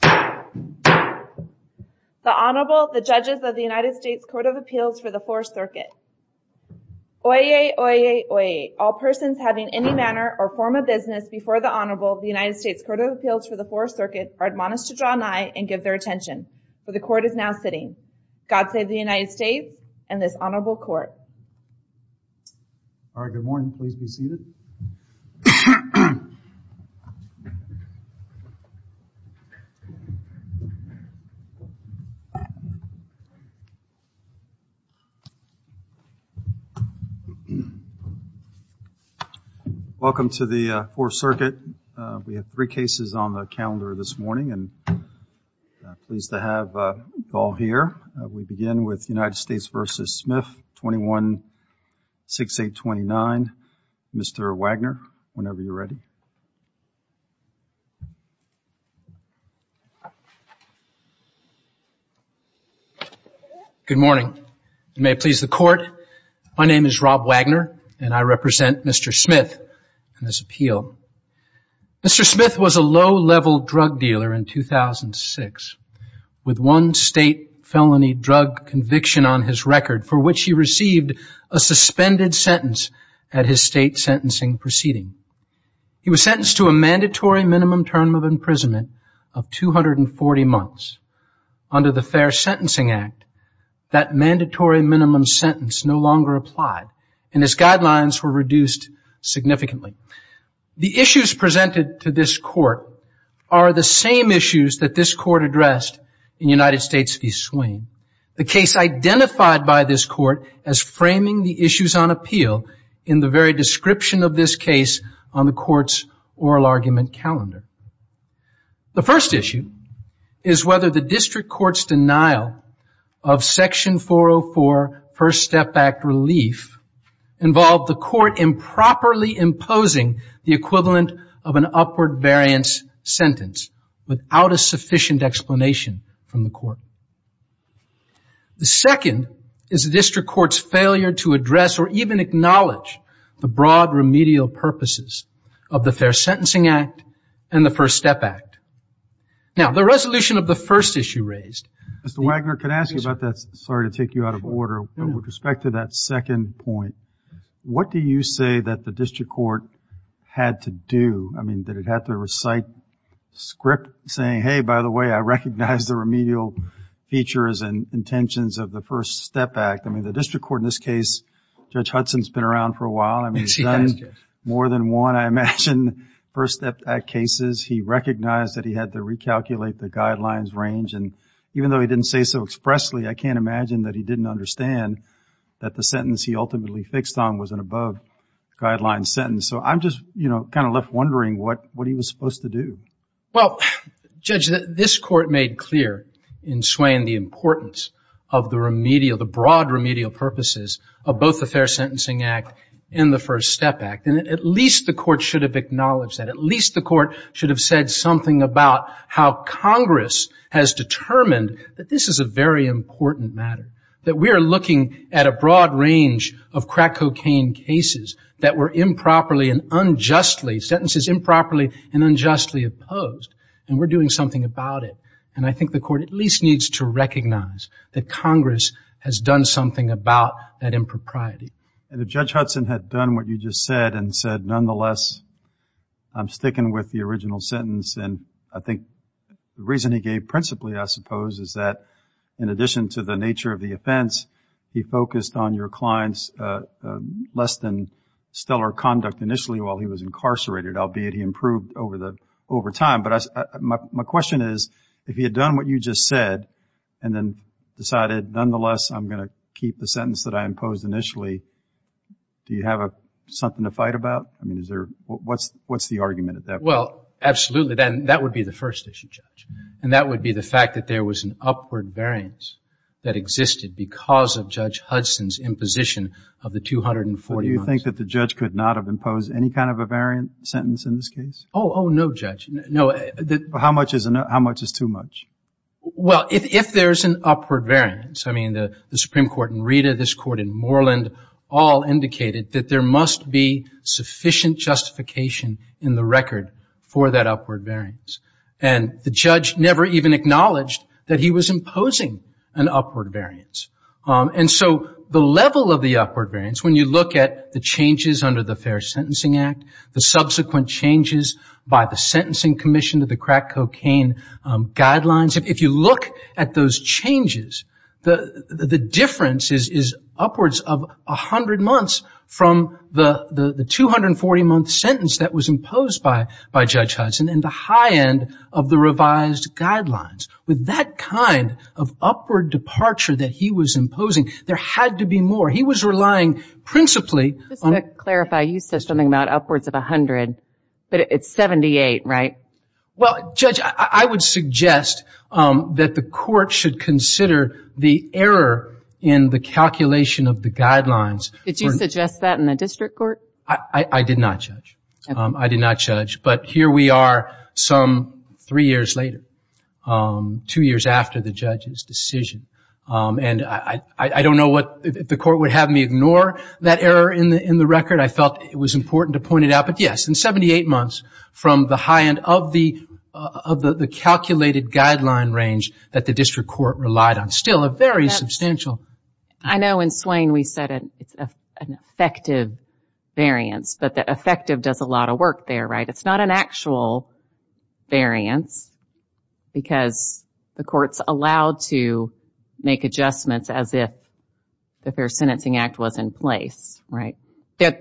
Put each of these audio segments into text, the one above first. The Honorable, the Judges of the United States Court of Appeals for the 4th Circuit. Oyez, oyez, oyez, all persons having any manner or form of business before the Honorable of the United States Court of Appeals for the 4th Circuit are admonished to draw nigh and give their attention. For the Court is now sitting. God save the United States and this Honorable Court. All right, good morning, please be seated. Welcome to the 4th Circuit. We have three cases on the calendar this morning and I'm pleased to have you all here. We begin with United States v. Smith, 21-6829. Mr. Wagner, whenever you're ready. Good morning. You may please the Court. My name is Rob Wagner and I represent Mr. Smith and his appeal. Mr. Smith was a low-level drug dealer in 2006 with one state felony drug conviction on his record for which he received a suspended sentence at his state sentencing proceeding. He was sentenced to a mandatory minimum term of imprisonment of 240 months. Under the Fair Sentencing Act, that mandatory minimum sentence no longer applied and his The issues presented to this Court are the same issues that this Court addressed in United States v. Swain. The case identified by this Court as framing the issues on appeal in the very description of this case on the Court's oral argument calendar. The first issue is whether the District Court's denial of Section 404 First Step Act relief involved the Court improperly imposing the equivalent of an upward variance sentence without a sufficient explanation from the Court. The second is the District Court's failure to address or even acknowledge the broad remedial purposes of the Fair Sentencing Act and the First Step Act. Now, the resolution of the first issue raised- Mr. Wagner, can I ask you about that? I'm sorry to take you out of order, but with respect to that second point, what do you say that the District Court had to do? I mean, did it have to recite script saying, hey, by the way, I recognize the remedial features and intentions of the First Step Act? I mean, the District Court in this case, Judge Hudson's been around for a while. I mean, he's done more than one, I imagine, First Step Act cases. He recognized that he had to recalculate the guidelines range and even though he didn't say so expressly, I can't imagine that he didn't understand that the sentence he ultimately fixed on was an above-guideline sentence. So I'm just, you know, kind of left wondering what he was supposed to do. Well, Judge, this Court made clear in swaying the importance of the remedial, the broad remedial purposes of both the Fair Sentencing Act and the First Step Act. And at least the Court should have acknowledged that. how Congress has determined that this is a very important matter, that we are looking at a broad range of crack cocaine cases that were improperly and unjustly, sentences improperly and unjustly opposed, and we're doing something about it. And I think the Court at least needs to recognize that Congress has done something about that impropriety. And if Judge Hudson had done what you just said and said, nonetheless, I'm sticking with the original sentence, and I think the reason he gave principally, I suppose, is that in addition to the nature of the offense, he focused on your client's less than stellar conduct initially while he was incarcerated, albeit he improved over time. But my question is, if he had done what you just said and then decided, nonetheless, I'm going to keep the sentence that I imposed initially, do you have something to fight about? Well, absolutely, then that would be the first issue, Judge. And that would be the fact that there was an upward variance that existed because of Judge Hudson's imposition of the 240 months. Do you think that the Judge could not have imposed any kind of a variant sentence in this case? Oh, no, Judge. No. How much is too much? Well, if there's an upward variance, I mean, the Supreme Court in Rita, this Court in for that upward variance. And the Judge never even acknowledged that he was imposing an upward variance. And so the level of the upward variance, when you look at the changes under the Fair Sentencing Act, the subsequent changes by the Sentencing Commission to the crack cocaine guidelines, if you look at those changes, the difference is upwards of 100 months from the 240-month sentence that was imposed by Judge Hudson and the high end of the revised guidelines. With that kind of upward departure that he was imposing, there had to be more. He was relying principally on... Just to clarify, you said something about upwards of 100, but it's 78, right? Well, Judge, I would suggest that the Court should consider the error in the calculation of the guidelines. Did you suggest that in the district court? I did not, Judge. I did not, Judge. But here we are some three years later, two years after the Judge's decision. And I don't know if the Court would have me ignore that error in the record. I felt it was important to point it out. But yes, in 78 months from the high end of the calculated guideline range that the district court relied on, still a very substantial... variance, but the effective does a lot of work there, right? It's not an actual variance because the Court's allowed to make adjustments as if the Fair Sentencing Act was in place, right?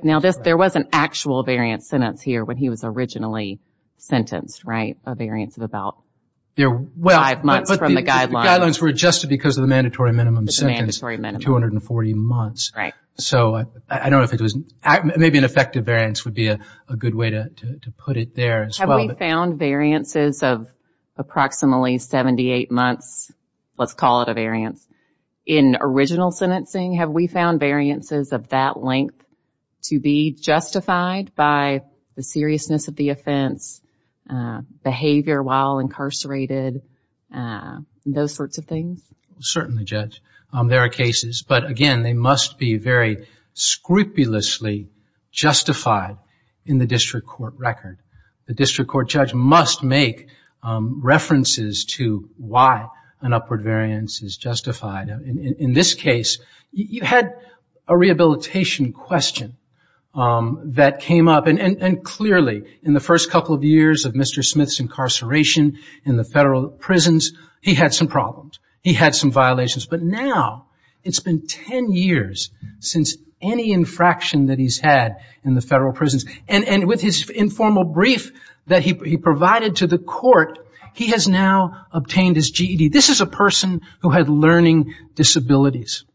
Now, there was an actual variance sentence here when he was originally sentenced, right? A variance of about five months from the guidelines. But the guidelines were adjusted because of the mandatory minimum sentence, 240 months. Right. So, I don't know if it was, maybe an effective variance would be a good way to put it there as well. Have we found variances of approximately 78 months, let's call it a variance, in original sentencing? Have we found variances of that length to be justified by the seriousness of the offense, behavior while incarcerated, those sorts of things? Certainly, Judge. There are cases, but again, they must be very scrupulously justified in the district court record. The district court judge must make references to why an upward variance is justified. In this case, you had a rehabilitation question that came up, and clearly, in the first couple of years of Mr. Smith's incarceration in the federal prisons, he had some problems. He had some violations. But now, it's been 10 years since any infraction that he's had in the federal prisons. And with his informal brief that he provided to the court, he has now obtained his GED. This is a person who had learning disabilities.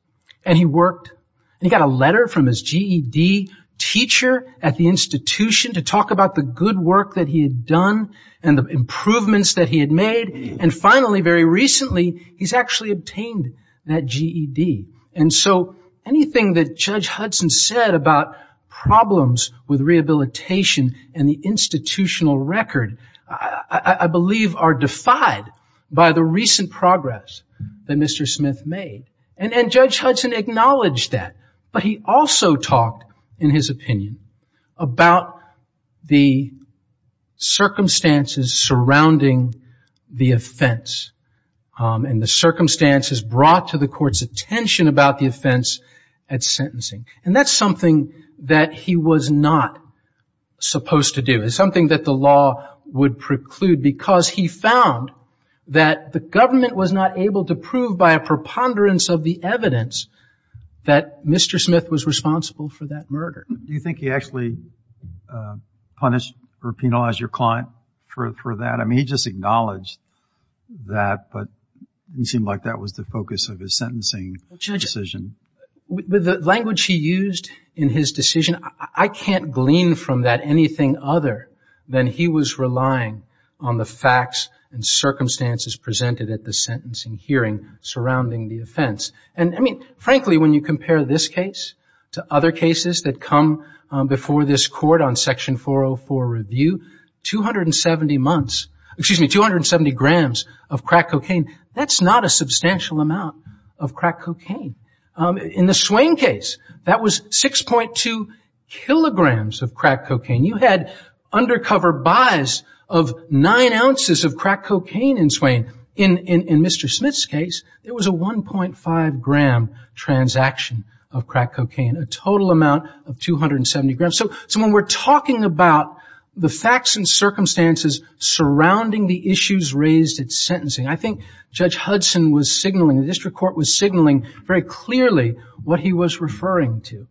And he worked, and he got a letter from his GED teacher at the institution to talk about the good work that he had done and the improvements that he had made. And finally, very recently, he's actually obtained that GED. And so, anything that Judge Hudson said about problems with rehabilitation and the institutional record I believe are defied by the recent progress that Mr. Smith made. And Judge Hudson acknowledged that, but he also talked, in his opinion, about the circumstances surrounding the offense and the circumstances brought to the court's attention about the offense at sentencing. And that's something that he was not supposed to do. It's something that the law would preclude because he found that the government was not able to prove by a preponderance of the evidence that Mr. Smith was responsible for that murder. Do you think he actually punished or penalized your client for that? I mean, he just acknowledged that, but it seemed like that was the focus of his sentencing decision. Well, Judge, with the language he used in his decision, I can't glean from that anything other than he was relying on the facts and circumstances presented at the sentencing hearing surrounding the offense. And, I mean, frankly, when you compare this case to other cases that come before this court on Section 404 review, 270 months, excuse me, 270 grams of crack cocaine, that's not a substantial amount of crack cocaine. In the Swain case, that was 6.2 kilograms of crack cocaine. You had undercover buys of nine ounces of crack cocaine in Swain. In Mr. Smith's case, it was a 1.5-gram transaction of crack cocaine, a total amount of 270 grams. So when we're talking about the facts and circumstances surrounding the issues raised at sentencing, I think Judge Hudson was signaling, the district court was signaling very clearly what he was referring to.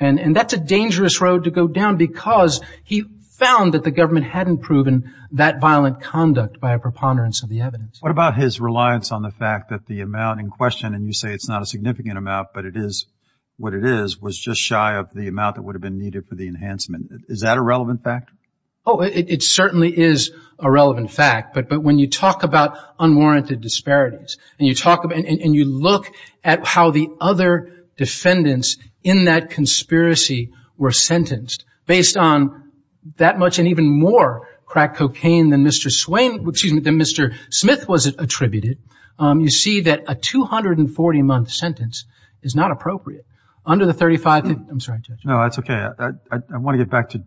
And that's a dangerous road to go down because he found that the government hadn't proven that violent conduct by a preponderance of the evidence. What about his reliance on the fact that the amount in question, and you say it's not a significant amount, but it is what it is, was just shy of the amount that would have been needed for the enhancement? Is that a relevant fact? Oh, it certainly is a relevant fact. But when you talk about unwarranted disparities, and you talk about, and you look at how the other defendants in that conspiracy were sentenced, based on that much and even more crack cocaine than Mr. Swain, excuse me, than Mr. Smith was attributed, you see that a 240-month sentence is not appropriate. Under the 35, I'm sorry, Judge. No, that's okay. I want to get back to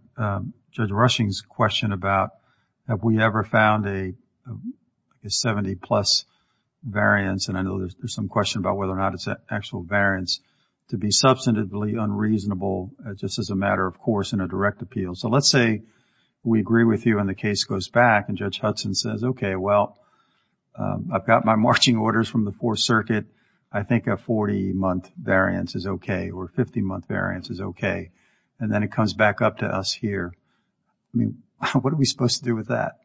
Judge Rushing's question about have we ever found a 70-plus variance, and I know there's some question about whether or not it's an actual variance, to be substantively unreasonable just as a matter of course in a direct appeal. So let's say we agree with you and the case goes back, and Judge Hudson says, okay, well, I've got my marching orders from the Fourth Circuit. I think a 40-month variance is okay, or a 50-month variance is okay. And then it comes back up to us here. I mean, what are we supposed to do with that?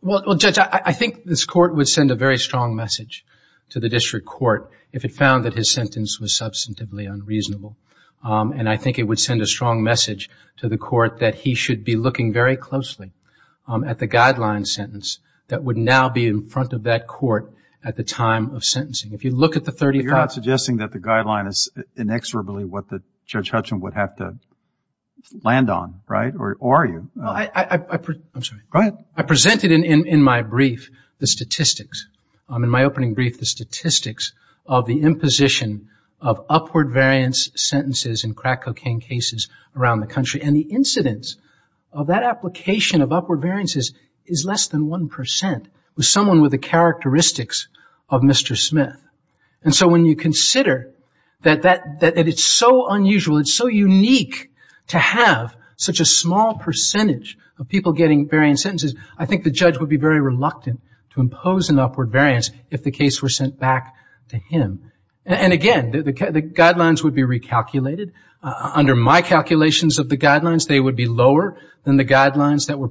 Well, Judge, I think this Court would send a very strong message to the District Court if it found that his sentence was substantively unreasonable, and I think it would send a strong message to the Court that he should be looking very closely at the guideline sentence that would now be in front of that Court at the time of sentencing. If you look at the 35... But you're not suggesting that the guideline is inexorably what Judge Hudson would have to land on, right? Or are you? I presented in my brief the statistics, in my opening brief, the statistics of the imposition of upward variance sentences in crack cocaine cases around the country, and the incidence of that application of upward variances is less than 1 percent with someone with the characteristics of Mr. Smith. And so when you consider that it's so unusual, it's so unique to have such a small percentage of people getting variance sentences, I think the Judge would be very reluctant to impose an upward variance if the case were sent back to him. And again, the guidelines would be recalculated. Under my calculations of the guidelines, they would be lower than the guidelines that were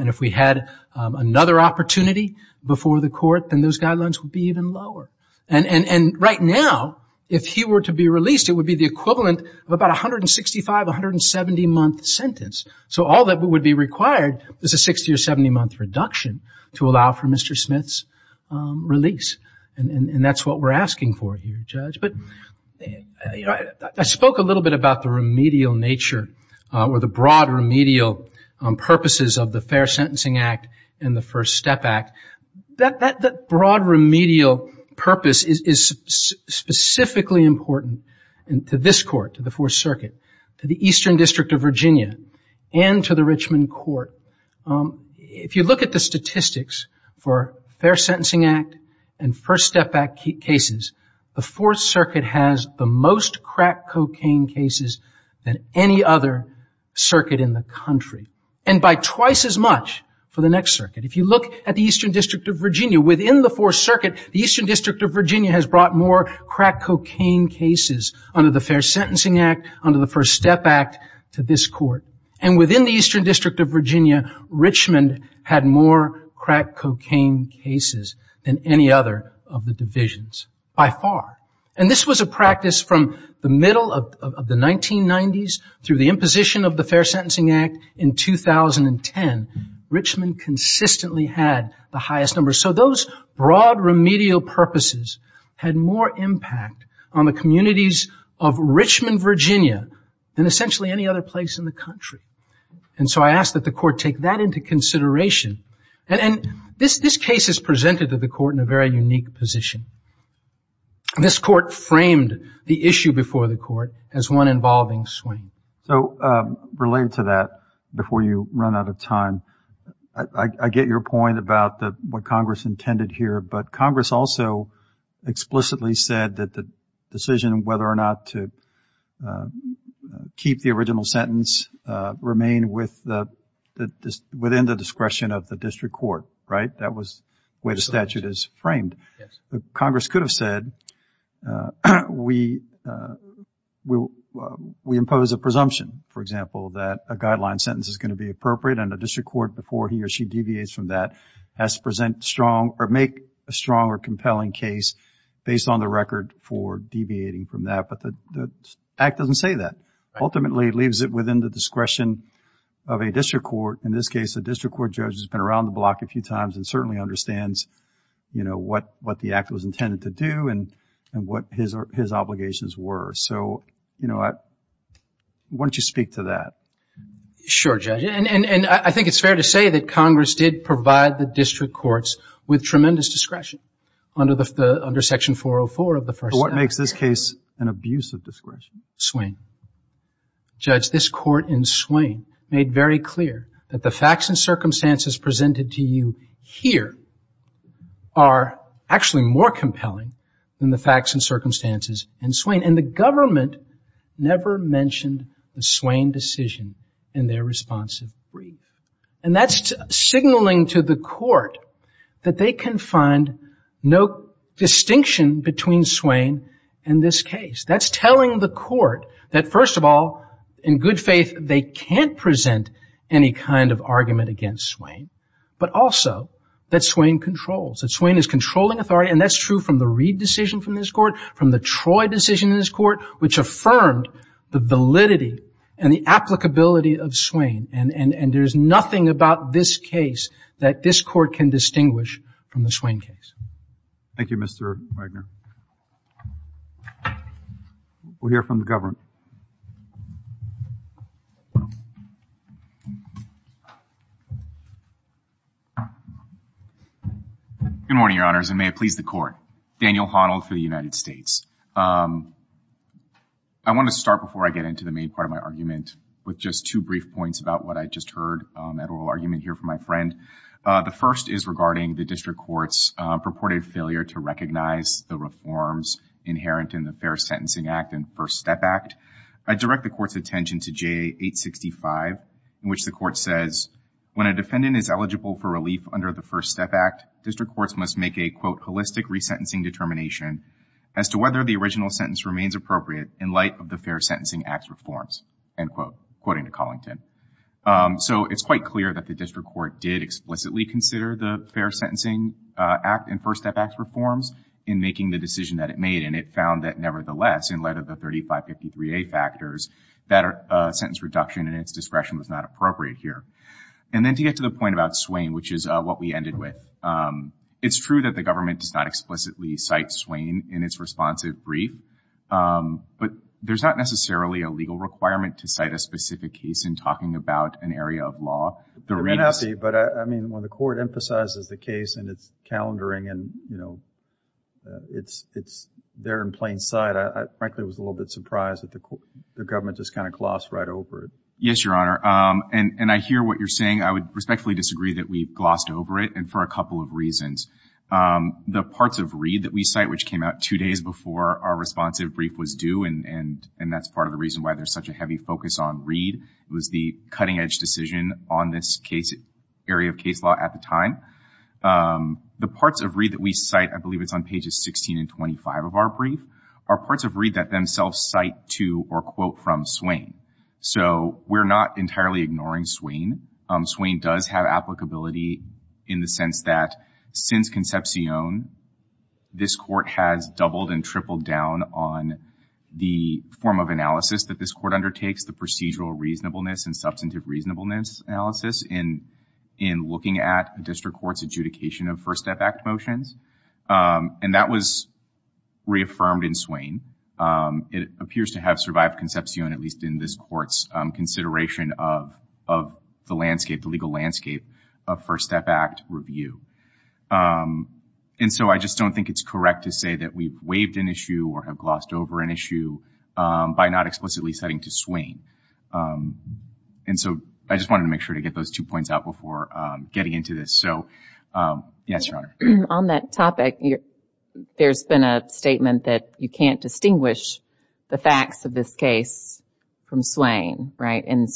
And if we had another opportunity before the Court, then those guidelines would be even lower. And right now, if he were to be released, it would be the equivalent of about a 165-170-month sentence. So all that would be required is a 60- or 70-month reduction to allow for Mr. Smith's release. And that's what we're asking for here, Judge. But I spoke a little bit about the remedial nature, or the broad remedial purposes of the Fair Sentencing Act and the First Step Act. That broad remedial purpose is specifically important to this Court, to the Fourth Circuit, to the Eastern District of Virginia, and to the Richmond Court. If you look at the statistics for Fair Sentencing Act and First Step Act cases, the Fourth Circuit has the most crack cocaine cases than any other circuit in the country. And by twice as much for the next circuit. If you look at the Eastern District of Virginia, within the Fourth Circuit, the Eastern District of Virginia has brought more crack cocaine cases under the Fair Sentencing Act, under the First Step Act, to this Court. And within the Eastern District of Virginia, Richmond had more crack cocaine cases than any other of the divisions, by far. And this was a practice from the middle of the 1990s, through the imposition of the Fair Sentencing Act in 2010, Richmond consistently had the highest numbers. So those broad remedial purposes had more impact on the communities of Richmond, Virginia than essentially any other place in the country. And so I ask that the Court take that into consideration. And this case is presented to the Court in a very unique position. This Court framed the issue before the Court as one involving swing. So, related to that, before you run out of time, I get your point about what Congress intended here, but Congress also explicitly said that the decision whether or not to keep the original sentence remained within the discretion of the District Court, right? That was the way the statute is framed. But Congress could have said, we impose a presumption, for example, that a guideline sentence is going to be appropriate, and the District Court, before he or she deviates from that, has to make a strong or compelling case based on the record for deviating from that. But the Act doesn't say that. Ultimately, it leaves it within the discretion of a District Court. In this case, the District Court judge has been around the block a few times and certainly understands, you know, what the Act was intended to do and what his obligations were. So, you know, why don't you speak to that? Sure, Judge. And I think it's fair to say that Congress did provide the District Courts with tremendous discretion under Section 404 of the First Amendment. What makes this case an abuse of discretion? Swing. Judge, this Court in swing made very clear that the facts and circumstances presented to you here are actually more compelling than the facts and circumstances in swing. And the government never mentioned the swing decision in their responsive brief. And that's signaling to the Court that they can find no distinction between swing and this case. That's telling the Court that, first of all, in good faith, they can't present any kind of argument against swing. But also, that swing controls, that swing is controlling authority. And that's true from the Reid decision from this Court, from the Troy decision in this Court, which affirmed the validity and the applicability of swing. And there's nothing about this case that this Court can distinguish from the swing case. Thank you, Mr. Wagner. We'll hear from the governor. Good morning, Your Honors, and may it please the Court. Daniel Honnold for the United States. I want to start before I get into the main part of my argument with just two brief points about what I just heard at oral argument here from my friend. And the first is regarding the District Court's purported failure to recognize the reforms inherent in the Fair Sentencing Act and First Step Act. I direct the Court's attention to JA 865, in which the Court says, when a defendant is eligible for relief under the First Step Act, District Courts must make a, quote, holistic re-sentencing determination as to whether the original sentence remains appropriate in light of the Fair Sentencing Act's reforms, end quote, quoting to Collington. So it's quite clear that the District Court did explicitly consider the Fair Sentencing Act and First Step Act's reforms in making the decision that it made, and it found that, nevertheless, in light of the 3553A factors, that sentence reduction in its discretion was not appropriate here. And then to get to the point about swing, which is what we ended with, it's true that the government does not explicitly cite swing in its responsive brief, but there's not necessarily a legal requirement to cite a specific case in talking about an area of law. The red... I'm happy, but I mean, when the Court emphasizes the case and its calendaring and, you know, it's there in plain sight, I frankly was a little bit surprised that the government just kind of glossed right over it. Yes, Your Honor. And I hear what you're saying. I would respectfully disagree that we glossed over it, and for a couple of reasons. The parts of Reed that we cite, which came out two days before our responsive brief was due, and that's part of the reason why there's such a heavy focus on Reed, it was the cutting-edge decision on this case, area of case law at the time. The parts of Reed that we cite, I believe it's on pages 16 and 25 of our brief, are parts of Reed that themselves cite to or quote from Swain. So we're not entirely ignoring Swain. Swain does have applicability in the sense that since Concepcion, this Court has doubled and tripled down on the form of analysis that this Court undertakes, the procedural reasonableness and substantive reasonableness analysis in looking at a district court's adjudication of First Step Act motions, and that was reaffirmed in Swain. It appears to have survived Concepcion, at least in this Court's consideration of the landscape, the legal landscape of First Step Act review. And so I just don't think it's correct to say that we've waived an issue or have glossed over an issue by not explicitly citing to Swain. And so I just wanted to make sure to get those two points out before getting into this. So yes, Your Honor. On that topic, there's been a statement that you can't distinguish the facts of this case from Swain, right? And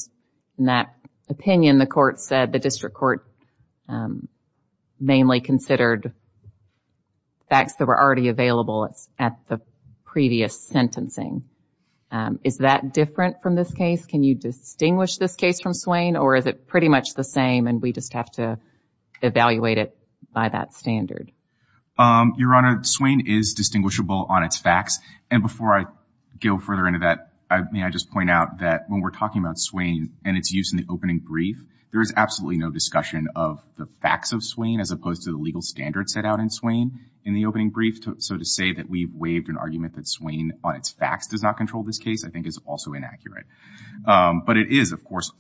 in that opinion, the court said the district court mainly considered facts that were already available at the previous sentencing. Is that different from this case? Can you distinguish this case from Swain, or is it pretty much the same and we just have to evaluate it by that standard? Your Honor, Swain is distinguishable on its facts. And before I go further into that, may I just point out that when we're talking about Swain and its use in the opening brief, there is absolutely no discussion of the facts of Swain as opposed to the legal standards set out in Swain in the opening brief. So to say that we've waived an argument that Swain on its facts does not control this case, I think is also inaccurate. But it is, of course,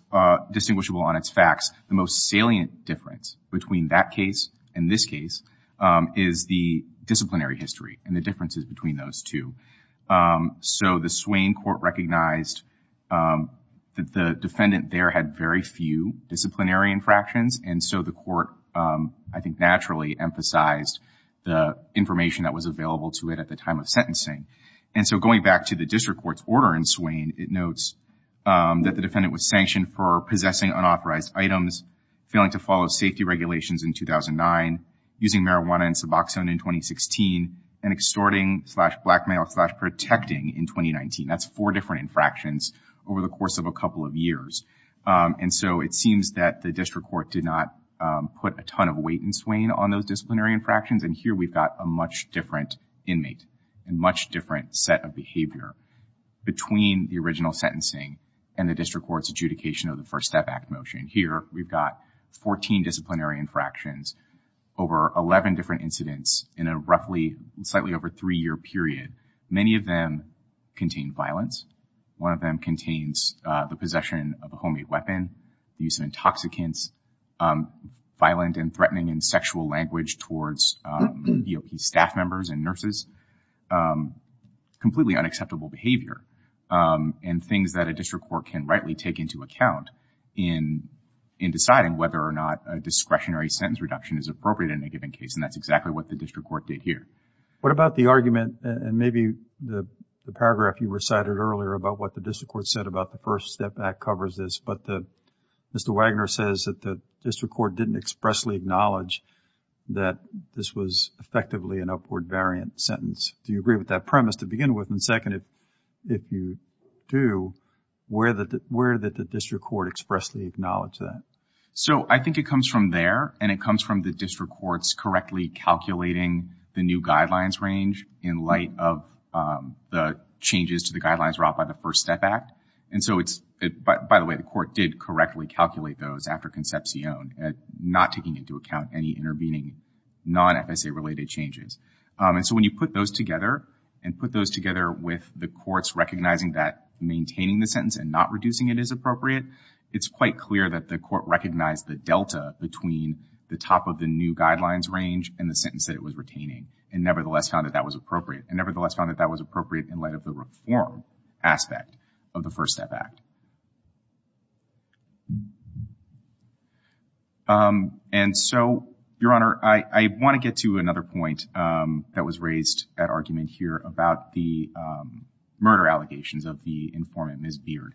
distinguishable on its facts. The most salient difference between that case and this case is the disciplinary history and the differences between those two. So the Swain court recognized that the defendant there had very few disciplinary infractions, and so the court, I think, naturally emphasized the information that was available to it at the time of sentencing. And so going back to the district court's order in Swain, it notes that the defendant was sanctioned for possessing unauthorized items, failing to follow safety regulations in 2009, using marijuana and suboxone in 2016, and extorting, slash, blackmail, slash, protecting in 2019. That's four different infractions over the course of a couple of years. And so it seems that the district court did not put a ton of weight in Swain on those disciplinary infractions. And here we've got a much different inmate and much different set of behavior between the original sentencing and the district court's adjudication of the First Step Act motion. And here we've got 14 disciplinary infractions over 11 different incidents in a roughly slightly over three-year period. Many of them contain violence. One of them contains the possession of a homemade weapon, the use of intoxicants, violent and threatening and sexual language towards DOP staff members and nurses, completely unacceptable behavior, and things that a district court can rightly take into account in deciding whether or not a discretionary sentence reduction is appropriate in a given case. And that's exactly what the district court did here. What about the argument, and maybe the paragraph you recited earlier about what the district court said about the First Step Act covers this, but Mr. Wagner says that the district court didn't expressly acknowledge that this was effectively an upward variant sentence. Do you agree with that premise to begin with? And second, if you do, where did the district court expressly acknowledge that? So I think it comes from there, and it comes from the district court's correctly calculating the new guidelines range in light of the changes to the guidelines brought by the First Step Act. And so it's, by the way, the court did correctly calculate those after concepcion, not taking into account any intervening non-FSA-related changes. And so when you put those together, and put those together with the courts recognizing that maintaining the sentence and not reducing it is appropriate, it's quite clear that the court recognized the delta between the top of the new guidelines range and the sentence that it was retaining, and nevertheless found that that was appropriate, and nevertheless found that that was appropriate in light of the reform aspect of the First Step Act. And so, Your Honor, I want to get to another point that was raised at argument here about the murder allegations of the informant, Ms. Beard.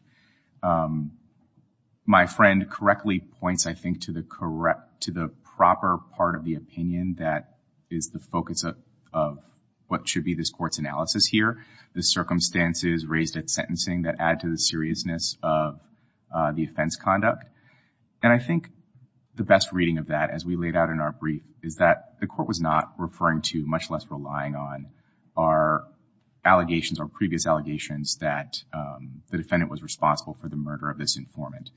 My friend correctly points, I think, to the proper part of the opinion that is the focus of what should be this court's analysis here, the circumstances raised at sentencing that add to the seriousness of the offense conduct. And I think the best reading of that, as we laid out in our brief, is that the court was not referring to, much less relying on, our allegations, our previous allegations that the defendant was responsible for the murder of this informant.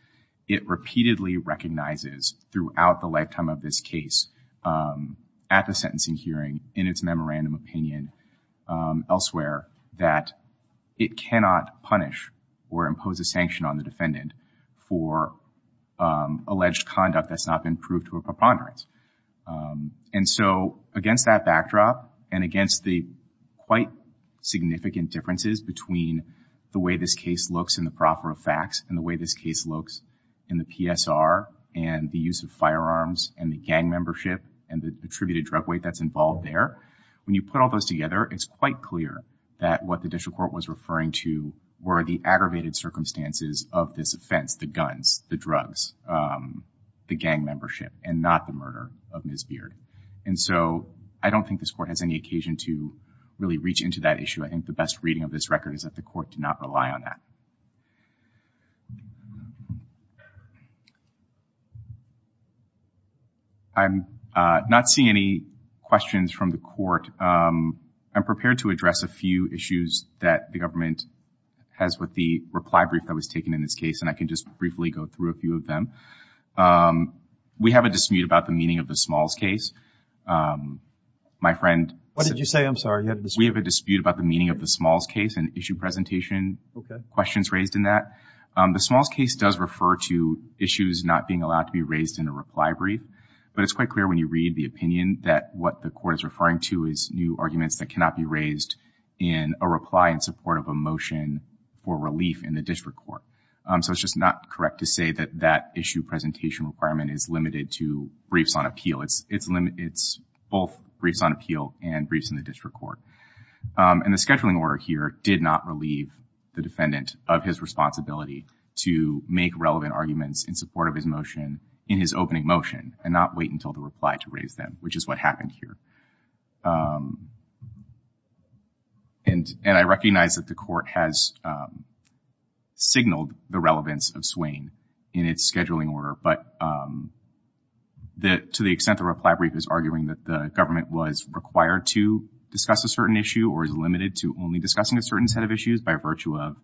It repeatedly recognizes throughout the lifetime of this case, at the sentencing hearing, in its memorandum opinion elsewhere, that it cannot punish or impose a sanction on the defendant for alleged conduct that's not been proved to be preponderance. And so, against that backdrop, and against the quite significant differences between the way this case looks in the proper of facts, and the way this case looks in the PSR, and the use of firearms, and the gang membership, and the attributed drug weight that's involved there, when you put all those together, it's quite clear that what the district court was referring to were the aggravated circumstances of this offense, the guns, the drugs, the gang membership, and not the murder of Ms. Beard. And so, I don't think this court has any occasion to really reach into that issue. I think the best reading of this record is that the court did not rely on that. I'm not seeing any questions from the court. I'm prepared to address a few issues that the government has with the reply brief that was taken in this case, and I can just briefly go through a few of them. We have a dispute about the meaning of the Smalls case. My friend... What did you say? I'm sorry. You had a dispute. We have a dispute about the meaning of the Smalls case and issue presentation. Okay. Questions raised in that. The Smalls case does refer to issues not being allowed to be raised in a reply brief, but it's quite clear when you read the opinion that what the court is referring to is new arguments that cannot be raised in a reply in support of a motion for relief in the district court. So, it's just not correct to say that that issue presentation requirement is limited to briefs on appeal. It's both briefs on appeal and briefs in the district court. And the scheduling order here did not relieve the defendant of his responsibility to make relevant arguments in support of his motion, in his opening motion, and not wait until the reply to raise them, which is what happened here. And I recognize that the court has signaled the relevance of Swain in its scheduling order, but to the extent the reply brief is arguing that the government was required to discuss a certain issue or is limited to only discussing a certain set of issues by virtue of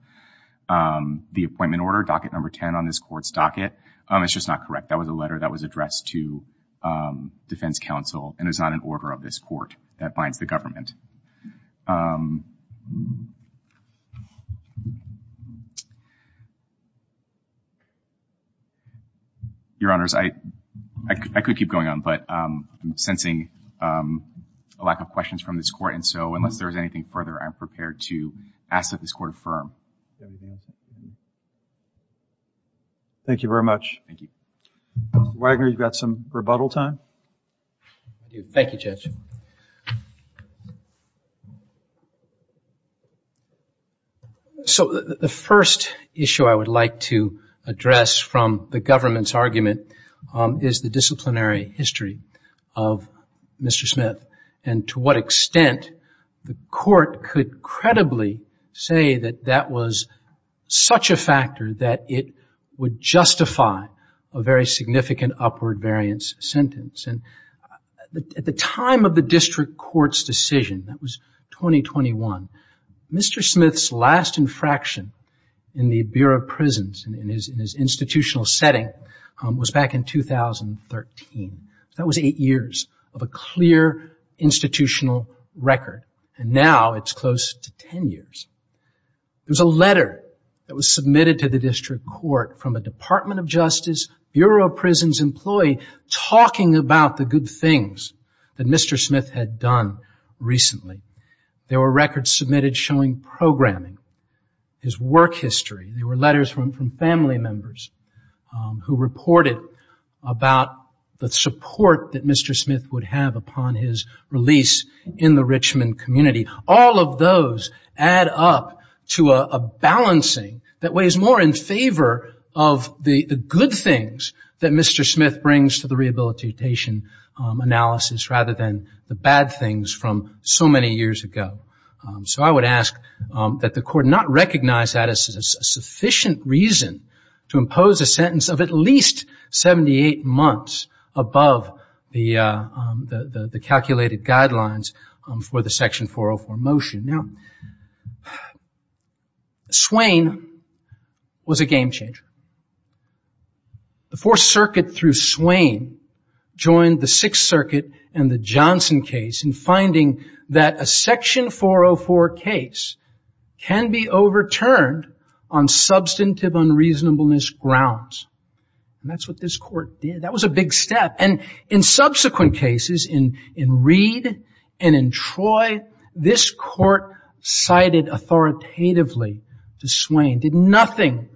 the appointment order, docket number 10 on this court's docket, it's just not correct. That was a letter that was addressed to defense counsel and it's not an order of this court that binds the government. Your Honors, I could keep going on, but I'm sensing a lack of questions from this court and so unless there's anything further, I'm prepared to ask that this court affirm. Thank you very much. Thank you. Mr. Wagner, you've got some rebuttal time? Thank you, Judge. So the first issue I would like to address from the government's argument is the disciplinary history of Mr. Smith. And to what extent the court could credibly say that that was such a factor that it would justify a very significant upward variance sentence. At the time of the district court's decision, that was 2021, Mr. Smith's last infraction in the Bureau of Prisons, in his institutional setting, was back in 2013. That was eight years of a clear institutional record and now it's close to ten years. There's a letter that was submitted to the district court from a Department of Justice, Bureau of Prisons employee, talking about the good things that Mr. Smith had done recently. There were records submitted showing programming, his work history, there were letters from the support that Mr. Smith would have upon his release in the Richmond community. All of those add up to a balancing that weighs more in favor of the good things that Mr. Smith brings to the rehabilitation analysis rather than the bad things from so many years ago. So I would ask that the court not recognize that as a sufficient reason to impose a sentence of at least 78 months above the calculated guidelines for the Section 404 motion. Swain was a game changer. The Fourth Circuit through Swain joined the Sixth Circuit and the Johnson case in finding that a Section 404 case can be overturned on substantive unreasonableness grounds. That's what this court did. That was a big step. In subsequent cases, in Reed and in Troy, this court sided authoritatively to Swain, did nothing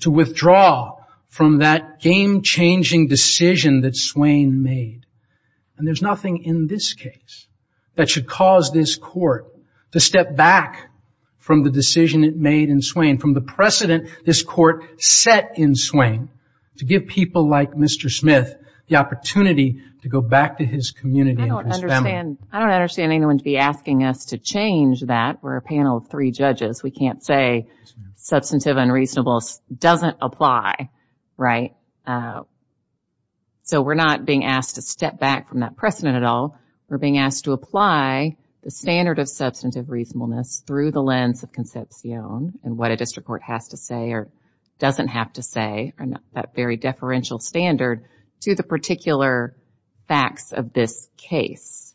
to withdraw from that game-changing decision that Swain made. There's nothing in this case that should cause this court to step back from the decision it made in Swain, from the precedent this court set in Swain, to give people like Mr. Smith the opportunity to go back to his community and his family. I don't understand anyone to be asking us to change that. We're a panel of three judges. We can't say substantive unreasonableness doesn't apply, right? We're not being asked to step back from that precedent at all. We're being asked to apply the standard of substantive reasonableness through the lens of conception and what a district court has to say or doesn't have to say, that very deferential standard to the particular facts of this case.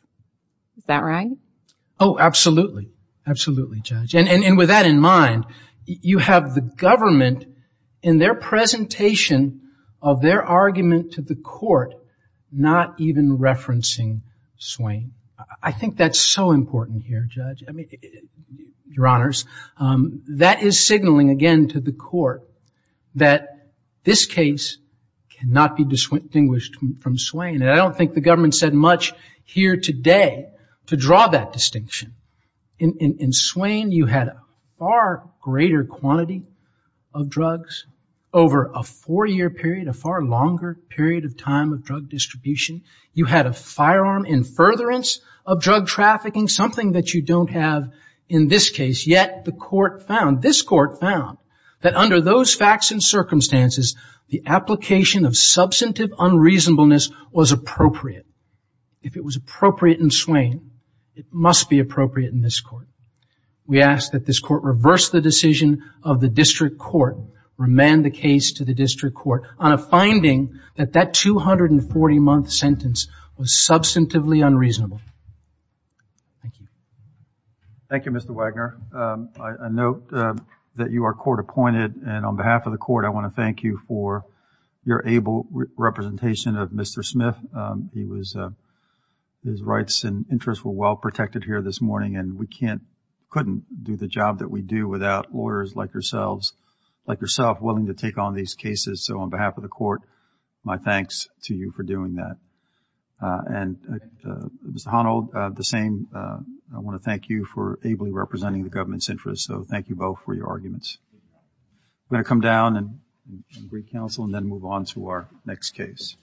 Absolutely. Absolutely, Judge. With that in mind, you have the government in their presentation of their argument to the court not even referencing Swain. I think that's so important here, Judge, Your Honors. That is signaling again to the court that this case cannot be distinguished from Swain. I don't think the government said much here today to draw that distinction. In Swain, you had a far greater quantity of drugs over a four-year period, a far longer period of time of drug distribution. You had a firearm in furtherance of drug trafficking, something that you don't have in this case. Yet the court found, this court found, that under those facts and circumstances, the application of substantive unreasonableness was appropriate. If it was appropriate in Swain, it must be appropriate in this court. We ask that this court reverse the decision of the district court, remand the case to the district court on a finding that that 240-month sentence was substantively unreasonable. Thank you. Thank you, Mr. Wagner. I note that you are court-appointed, and on behalf of the court, I want to thank you for your able representation of Mr. Smith. He was, his rights and interests were well-protected here this morning, and we can't, couldn't do the job that we do without lawyers like yourselves, like yourself, willing to take on these cases. So, on behalf of the court, my thanks to you for doing that. And Mr. Honnold, the same, I want to thank you for ably representing the government's interests. So, thank you both for your arguments. I'm going to come down and bring counsel and then move on to our next case.